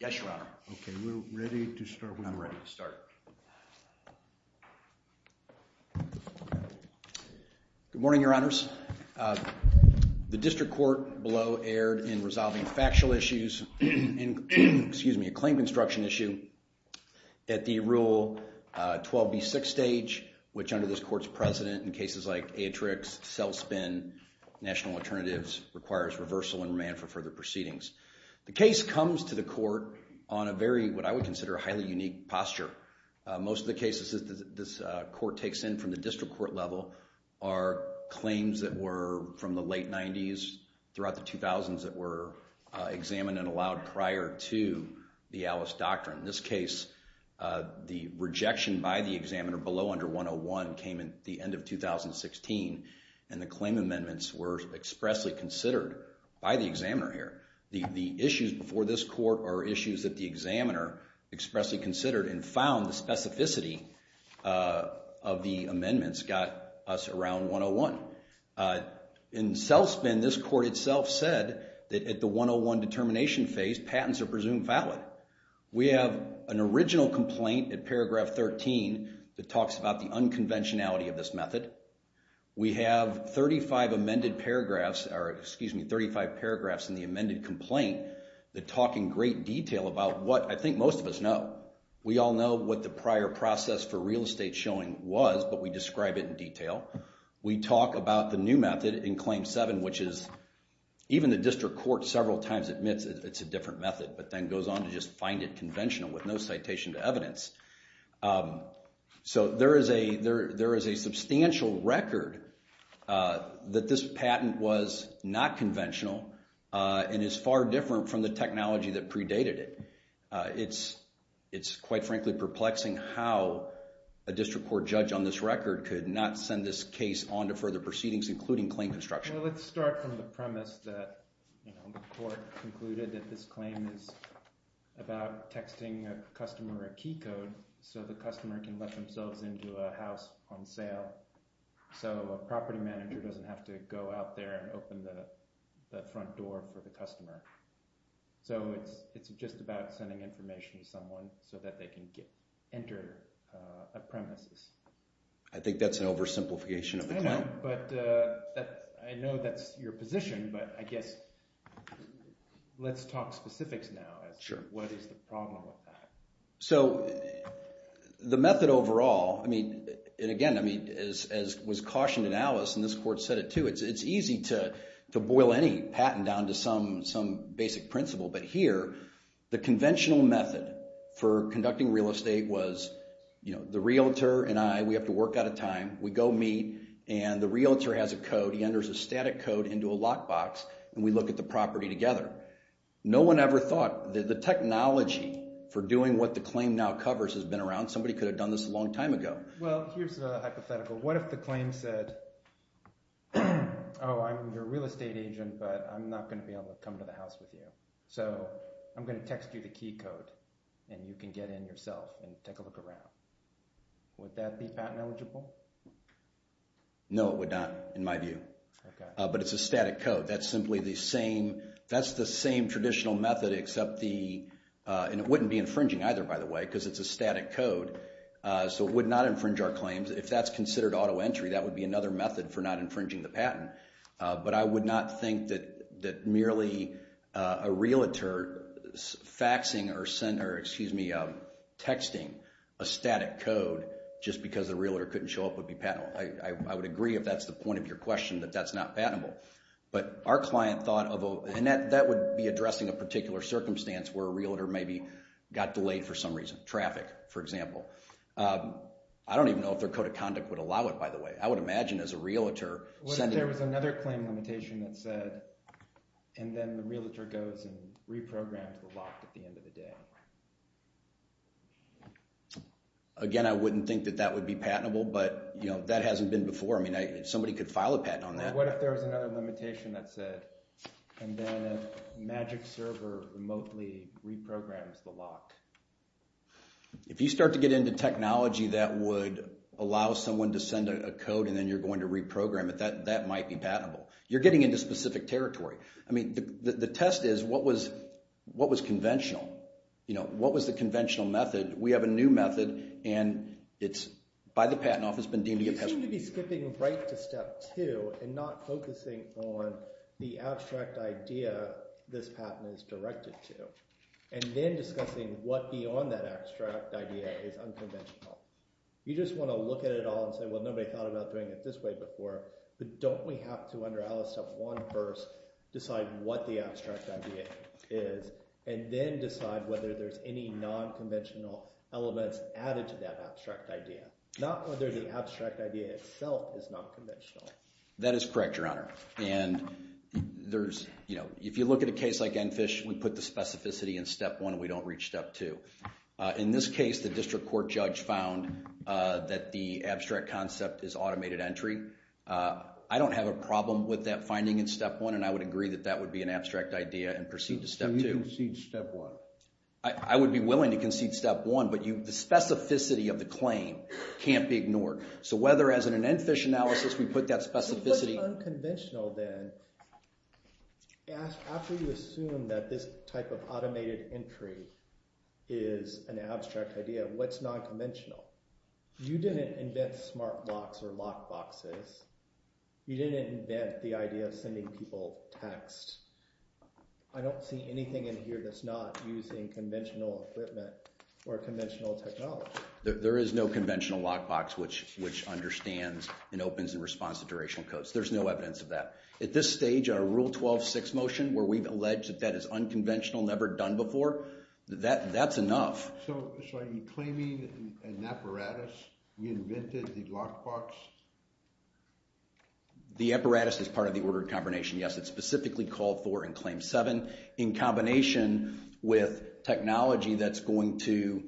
Yes, Your Honor. Okay, we're ready to start. I'm ready to start. Good morning, Your Honor. Good morning, Your Honors. The District Court below erred in resolving factual issues, excuse me, a claim construction issue at the Rule 12b6 stage, which under this Court's precedent in cases like Atrix, Cellspin, National Alternatives, requires reversal and remand for further proceedings. The case comes to the Court on a very, what I would consider, highly unique posture. Most of the cases that this Court takes in from the District Court level are claims that were from the late 90s throughout the 2000s that were examined and allowed prior to the Alice Doctrine. In this case, the rejection by the examiner below under 101 came at the end of 2016, and the claim amendments were expressly considered by the examiner here. The issues before this Court are issues that the examiner expressly considered and found the specificity of the amendments got us around 101. In Cellspin, this Court itself said that at the 101 determination phase, patents are presumed valid. We have an original complaint at paragraph 13 that talks about the unconventionality of this method. We have 35 amended paragraphs, or excuse me, 35 paragraphs in the amended complaint that talk in great detail about what I think most of us know. We all know what the prior process for real estate showing was, but we describe it in detail. We talk about the new method in Claim 7, which is, even the District Court several times admits it's a different method, but then goes on to just find it conventional with no citation to evidence. So there is a substantial record that this patent was not conventional and is far different from the technology that predated it. It's quite frankly perplexing how a District Court judge on this record could not send this case on to further proceedings, including claim construction. Let's start from the premise that the Court concluded that this claim is about texting a customer a key code so the customer can let themselves into a house on sale, so a property manager doesn't have to go out there and open the front door for the customer. So it's just about sending information to someone so that they can enter a premises. I think that's an oversimplification of the claim. I know that's your position, but I guess let's talk specifics now. What is the problem with that? So the method overall, and again, as was cautioned in Alice and this Court said it too, it's easy to boil any patent down to some basic principle, but here the conventional method for conducting real estate was the realtor and I, we have to work out a time, we go meet, and the realtor has a code, he enters a static code into a lockbox, and we look at the property together. No one ever thought that the technology for doing what the claim now covers has been around. Somebody could have done this a long time ago. Well, here's a hypothetical. What if the claim said, oh, I'm your real estate agent, but I'm not going to be able to come to the house with you, so I'm going to text you the key code and you can get in yourself and take a look around. Would that be patent eligible? No, it would not in my view, but it's a static code. That's simply the same, that's the same traditional method except the, and it wouldn't be infringing either, by the way, because it's a static code, so it would not infringe our claims. If that's considered auto entry, that would be another method for not infringing the patent, but I would not think that merely a realtor faxing or texting a static code just because the realtor couldn't show up would be patentable. I would agree if that's the point of your question, that that's not patentable, but our client thought, and that would be addressing a particular circumstance where a realtor maybe got delayed for some reason, traffic, for example. I don't even know if their code of conduct would allow it, by the way. I would imagine as a realtor sending... What if there was another claim limitation that said, and then the realtor goes and reprograms the lock at the end of the day? Again, I wouldn't think that that would be patentable, but that hasn't been before. I mean, somebody could file a patent on that. What if there was another limitation that said, and then a magic server remotely reprograms the lock? If you start to get into technology that would allow someone to send a code and then you're going to reprogram it, that might be patentable. You're getting into specific territory. I mean, the test is, what was conventional? You know, what was the conventional method? We have a new method, and it's by the Patent Office been deemed... You seem to be skipping right to step two and not focusing on the abstract idea this patent is directed to, and then discussing what beyond that abstract idea is unconventional. You just want to look at it all and say, well, nobody thought about doing it this way before, but don't we have to, under Alice Step 1 first, decide what the abstract idea is and then decide whether there's any nonconventional elements added to that abstract idea, not whether the abstract idea itself is nonconventional. That is correct, Your Honor, and there's... If you look at a case like Enfish, we put the specificity in Step 1 and we don't reach Step 2. In this case, the district court judge found that the abstract concept is automated entry. I don't have a problem with that finding in Step 1, and I would agree that that would be an abstract idea and proceed to Step 2. So you concede Step 1? I would be willing to concede Step 1, but the specificity of the claim can't be ignored. So whether, as in an Enfish analysis, we put that specificity... After you assume that this type of automated entry is an abstract idea, what's nonconventional? You didn't invent smart locks or lockboxes. You didn't invent the idea of sending people text. I don't see anything in here that's not using conventional equipment or conventional technology. There is no conventional lockbox which understands and opens in response to durational codes. There's no evidence of that. At this stage, our Rule 12.6 motion, where we've alleged that that is unconventional, never done before, that's enough. So are you claiming an apparatus? You invented the lockbox? The apparatus is part of the ordered combination, yes. It's specifically called for in Claim 7. In combination with technology that's going to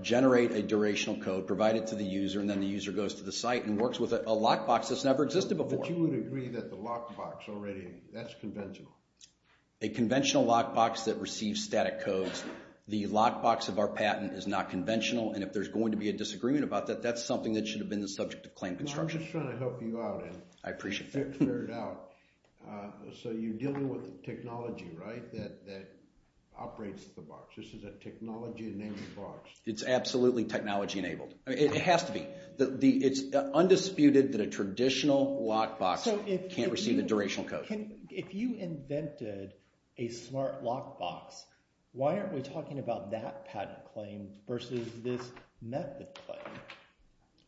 generate a durational code, provide it to the user, and then the user goes to the site and works with a lockbox that's never existed before. But you would agree that the lockbox already, that's conventional? A conventional lockbox that receives static codes. The lockbox of our patent is not conventional, and if there's going to be a disagreement about that, that's something that should have been the subject of claim construction. I'm just trying to help you out. I appreciate that. So you're dealing with technology, right, that operates the box. This is a technology-enabled box. It's absolutely technology-enabled. It has to be. It's undisputed that a traditional lockbox can't receive a durational code. If you invented a smart lockbox, why aren't we talking about that patent claim versus this method claim?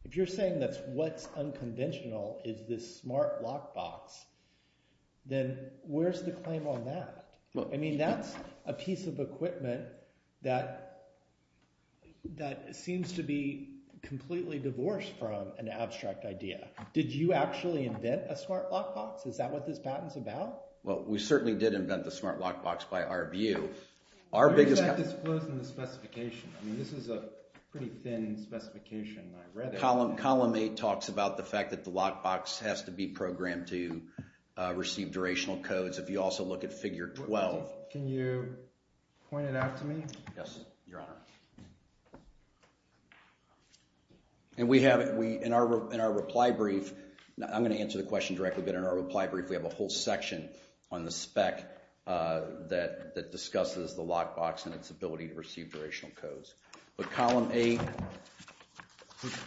If you're saying that what's unconventional is this smart lockbox, then where's the claim on that? I mean, that's a piece of equipment that seems to be completely divorced from an abstract idea. Did you actually invent a smart lockbox? Is that what this patent's about? Well, we certainly did invent the smart lockbox by our view. Our biggest— But in fact, this flows in the specification. I mean, this is a pretty thin specification. Column 8 talks about the fact that the lockbox has to be programmed to receive durational codes. If you also look at Figure 12— Can you point it out to me? Yes, Your Honor. And we have—in our reply brief, I'm going to answer the question directly, but in our reply brief, we have a whole section on the spec that discusses the lockbox and its ability to receive durational codes. But Column 8—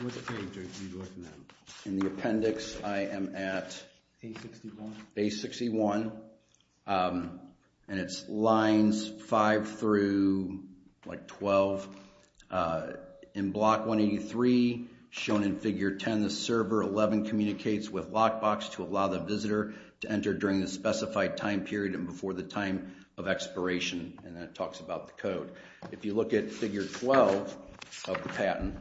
What's the page that you're looking at? In the appendix, I am at— A61. A61. And it's lines 5 through, like, 12. In Block 183, shown in Figure 10, the server 11 communicates with lockbox to allow the visitor to enter during the specified time period and before the time of expiration. And that talks about the code. If you look at Figure 12 of the patent—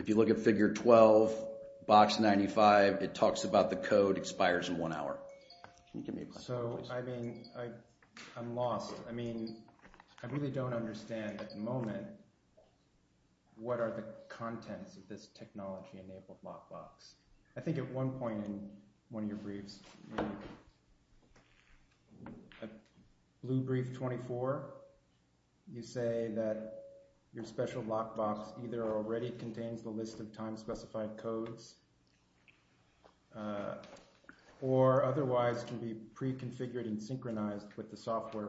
If you look at Figure 12, Box 95, it talks about the code expires in one hour. Can you give me a question, please? So, I mean, I'm lost. I mean, I really don't understand at the moment what are the contents of this technology-enabled lockbox. I think at one point in one of your briefs, in Blue Brief 24, you say that your special lockbox either already contains the list of time-specified codes or otherwise can be pre-configured and synchronized with the software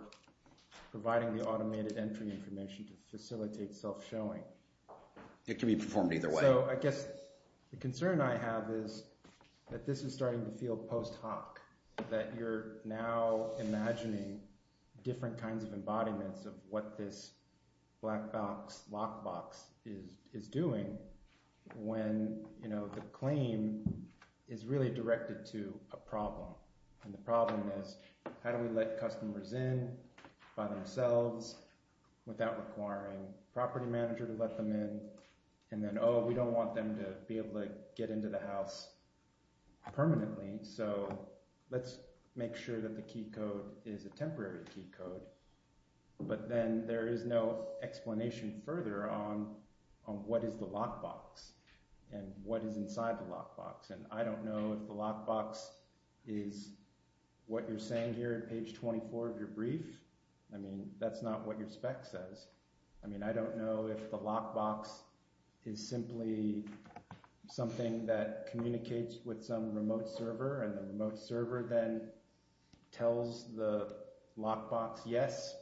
providing the automated entry information to facilitate self-showing. It can be performed either way. So, I guess the concern I have is that this is starting to feel post hoc, that you're now imagining different kinds of embodiments of what this black box lockbox is doing when, you know, the claim is really directed to a problem. And the problem is how do we let customers in by themselves without requiring a property manager to let them in? And then, oh, we don't want them to be able to get into the house permanently, so let's make sure that the key code is a temporary key code. But then there is no explanation further on what is the lockbox and what is inside the lockbox. And I don't know if the lockbox is what you're saying here at page 24 of your brief. I mean, that's not what your spec says. I mean, I don't know if the lockbox is simply something that communicates with some remote server and the remote server then tells the lockbox, yes,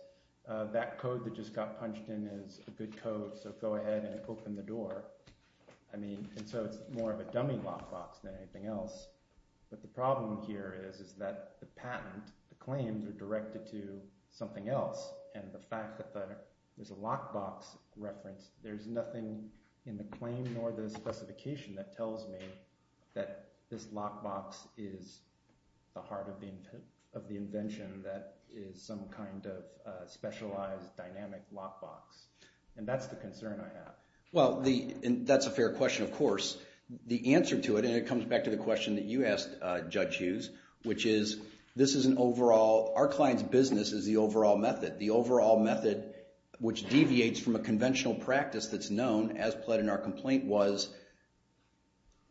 that code that just got punched in is a good code, so go ahead and open the door. I mean, and so it's more of a dummy lockbox than anything else. But the problem here is that the patent, the claims are directed to something else and the fact that there's a lockbox reference, there's nothing in the claim nor the specification that tells me that this lockbox is the heart of the invention that is some kind of specialized dynamic lockbox. And that's the concern I have. Well, that's a fair question, of course. The answer to it, and it comes back to the question that you asked, Judge Hughes, which is this is an overall, our client's business is the overall method. The overall method which deviates from a conventional practice that's known, as pled in our complaint, was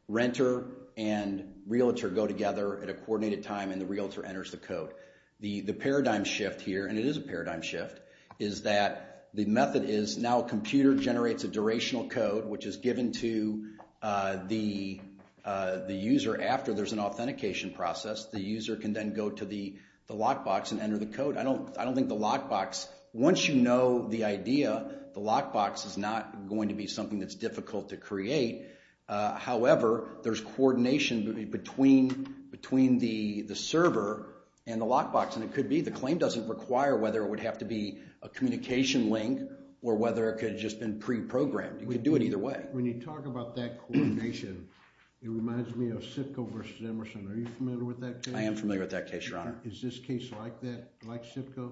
renter and realtor go together at a coordinated time and the realtor enters the code. The paradigm shift here, and it is a paradigm shift, is that the method is now a computer generates a durational code which is given to the user after there's an authentication process. The user can then go to the lockbox and enter the code. I don't think the lockbox, once you know the idea, the lockbox is not going to be something that's difficult to create. However, there's coordination between the server and the lockbox, and it could be the claim doesn't require whether it would have to be a communication link or whether it could have just been pre-programmed. You could do it either way. When you talk about that coordination, it reminds me of SIPCO versus Emerson. Are you familiar with that case? I am familiar with that case, Your Honor. Is this case like that, like SIPCO?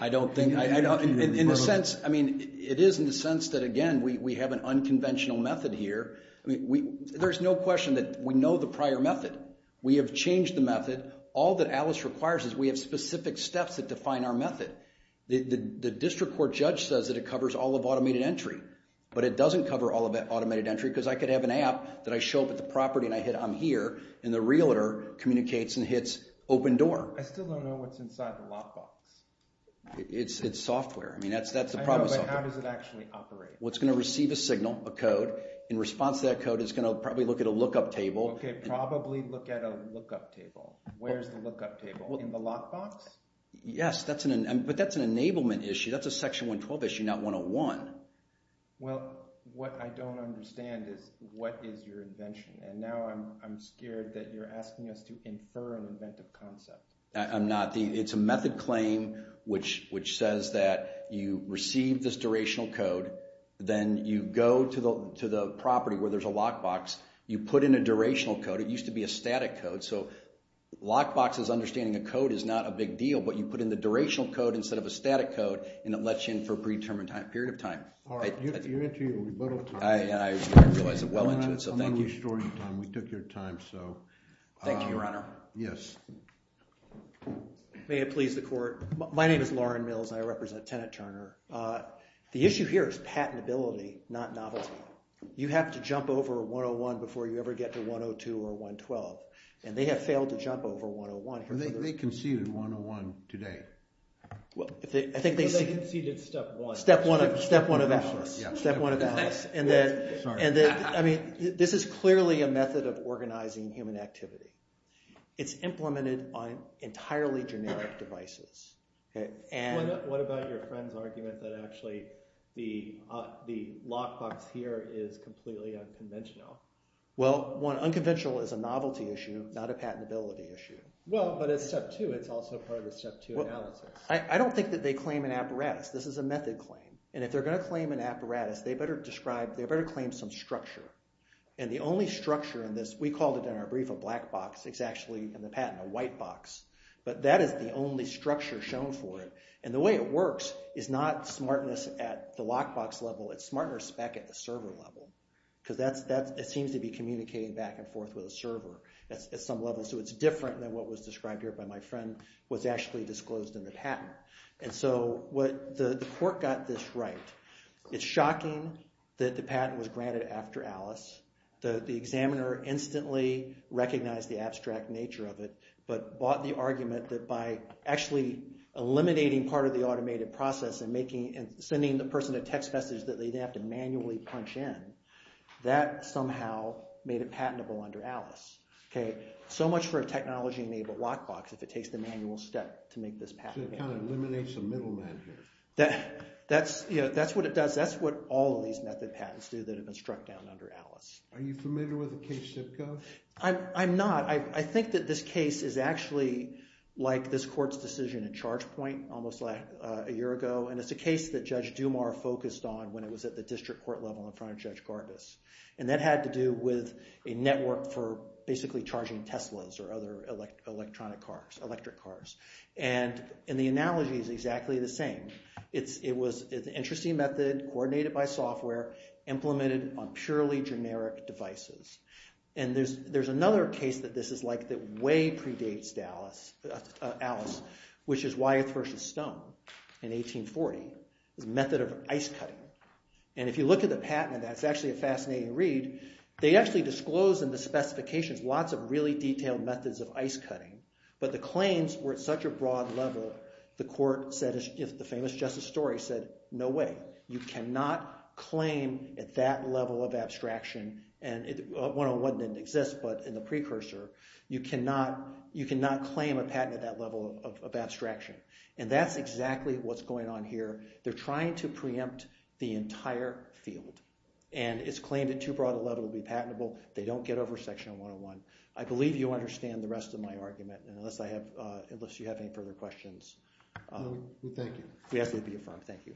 I don't think, in a sense, I mean, it is in the sense that, again, we have an unconventional method here. I mean, there's no question that we know the prior method. We have changed the method. All that Alice requires is we have specific steps that define our method. The district court judge says that it covers all of automated entry, but it doesn't cover all of that automated entry because I could have an app that I show up at the property and I hit on here, and the realtor communicates and hits open door. I still don't know what's inside the lockbox. It's software. I mean, that's the problem with software. I know, but how does it actually operate? Well, it's going to receive a signal, a code. In response to that code, it's going to probably look at a lookup table. Okay, probably look at a lookup table. Where's the lookup table? In the lockbox? Yes, but that's an enablement issue. That's a Section 112 issue, not 101. Well, what I don't understand is what is your invention, and now I'm scared that you're asking us to infer an inventive concept. I'm not. It's a method claim which says that you receive this durational code. Then you go to the property where there's a lockbox. You put in a durational code. It used to be a static code, so lockboxes understanding a code is not a big deal, but you put in the durational code instead of a static code, and it lets you in for a predetermined period of time. All right, you're into your rebuttal time. I realize I'm well into it, so thank you. I'm not restoring time. We took your time, so. Thank you, Your Honor. Yes. May it please the Court. My name is Lauren Mills, and I represent Tenant Turner. The issue here is patentability, not novelty. You have to jump over 101 before you ever get to 102 or 112, and they have failed to jump over 101. They conceded 101 today. I think they conceded step one. Step one of the house. Step one of the house. This is clearly a method of organizing human activity. It's implemented on entirely generic devices. What about your friend's argument that actually the lockbox here is completely unconventional? Well, one, unconventional is a novelty issue, not a patentability issue. Well, but it's step two. It's also part of the step two analysis. I don't think that they claim an apparatus. This is a method claim, and if they're going to claim an apparatus, they better claim some structure, and the only structure in this, we called it in our brief a black box. It's actually in the patent a white box, but that is the only structure shown for it, and the way it works is not smartness at the lockbox level. It's smartness back at the server level because it seems to be communicating back and forth with a server at some level, so it's different than what was described here by my friend was actually disclosed in the patent. And so the court got this right. It's shocking that the patent was granted after Alice. The examiner instantly recognized the abstract nature of it but bought the argument that by actually eliminating part of the automated process and sending the person a text message that they didn't have to manually punch in, that somehow made it patentable under Alice. So much for a technology-enabled lockbox if it takes the manual step to make this patentable. So it kind of eliminates the middleman here. That's what it does. That's what all of these method patents do that have been struck down under Alice. Are you familiar with the case that goes? I'm not. I think that this case is actually like this court's decision in Chargepoint almost a year ago, and it's a case that Judge Dumas focused on when it was at the district court level in front of Judge Gargis. And that had to do with a network for basically charging Teslas or other electric cars. And the analogy is exactly the same. It was an interesting method, coordinated by software, implemented on purely generic devices. And there's another case that this is like that way predates Alice, which is Wyeth v. Stone in 1840. It was a method of ice cutting. And if you look at the patent on that, it's actually a fascinating read. They actually disclose in the specifications lots of really detailed methods of ice cutting, but the claims were at such a broad level, the court said, the famous justice story said, no way, you cannot claim at that level of abstraction and 101 didn't exist, but in the precursor, you cannot claim a patent at that level of abstraction. And that's exactly what's going on here. They're trying to preempt the entire field. And it's claimed at too broad a level to be patentable. They don't get over section 101. I believe you understand the rest of my argument, unless you have any further questions. Thank you. Yes, it would be affirmed. Thank you.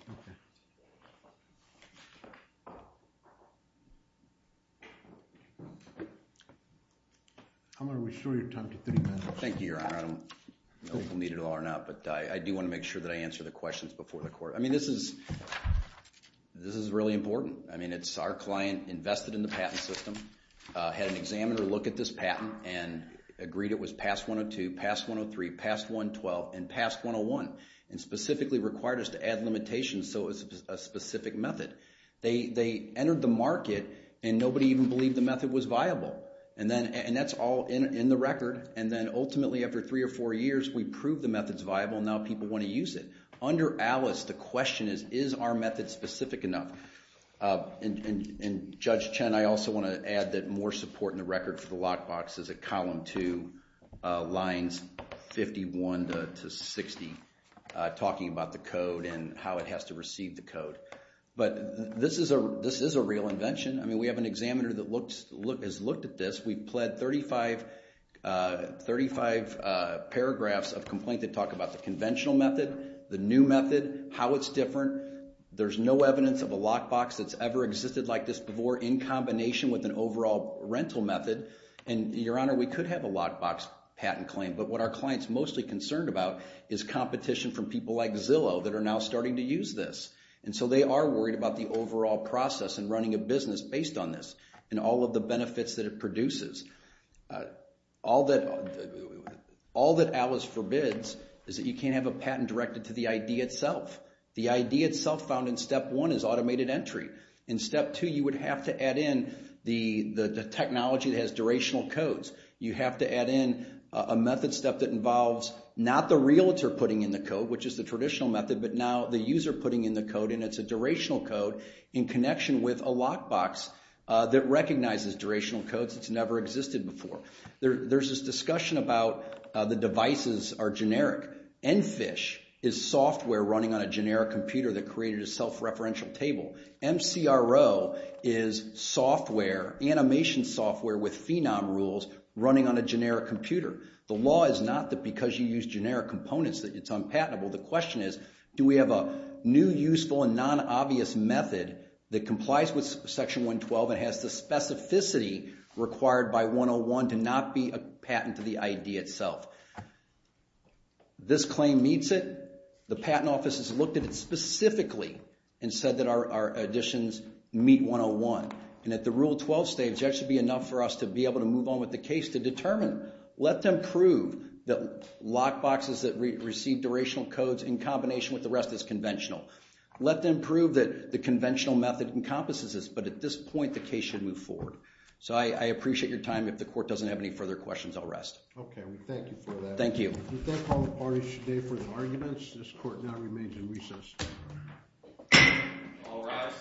I'm going to restore your time to 30 minutes. Thank you, Your Honor. I don't know if we'll need it all or not, but I do want to make sure that I answer the questions before the court. I mean, this is really important. I mean, it's our client invested in the patent system, had an examiner look at this patent and agreed it was past 102, past 103, past 112, and past 101, and specifically required us to add limitations so it was a specific method. They entered the market, and nobody even believed the method was viable. And that's all in the record. And then ultimately, after three or four years, we proved the method's viable, and now people want to use it. Under Alice, the question is, is our method specific enough? And Judge Chen, I also want to add that more support in the record for the lockbox is at column two, lines 51 to 60, talking about the code and how it has to receive the code. But this is a real invention. I mean, we have an examiner that has looked at this. We've pled 35 paragraphs of complaint that talk about the conventional method, the new method, how it's different. There's no evidence of a lockbox that's ever existed like this before in combination with an overall rental method. And, Your Honor, we could have a lockbox patent claim, but what our client's mostly concerned about is competition from people like Zillow that are now starting to use this. And so they are worried about the overall process and running a business based on this and all of the benefits that it produces. All that Alice forbids is that you can't have a patent directed to the idea itself. The idea itself found in step one is automated entry. In step two, you would have to add in the technology that has durational codes. You have to add in a method step that involves not the realtor putting in the code, which is the traditional method, but now the user putting in the code, and it's a durational code in connection with a lockbox that recognizes durational codes that's never existed before. There's this discussion about the devices are generic. EnFish is software running on a generic computer that created a self-referential table. MCRO is animation software with phenom rules running on a generic computer. The law is not that because you use generic components that it's unpatentable. The question is do we have a new useful and non-obvious method that complies with Section 112 and has the specificity required by 101 to not be a patent to the idea itself. This claim meets it. The Patent Office has looked at it specifically and said that our additions meet 101. And at the Rule 12 stage, that should be enough for us to be able to move on with the case to determine, let them prove that lockboxes that receive durational codes in combination with the rest is conventional. Let them prove that the conventional method encompasses this, but at this point the case should move forward. So I appreciate your time. If the court doesn't have any further questions, I'll rest. Okay, we thank you for that. Thank you. We thank all the parties today for their arguments. This court now remains in recess. All rise.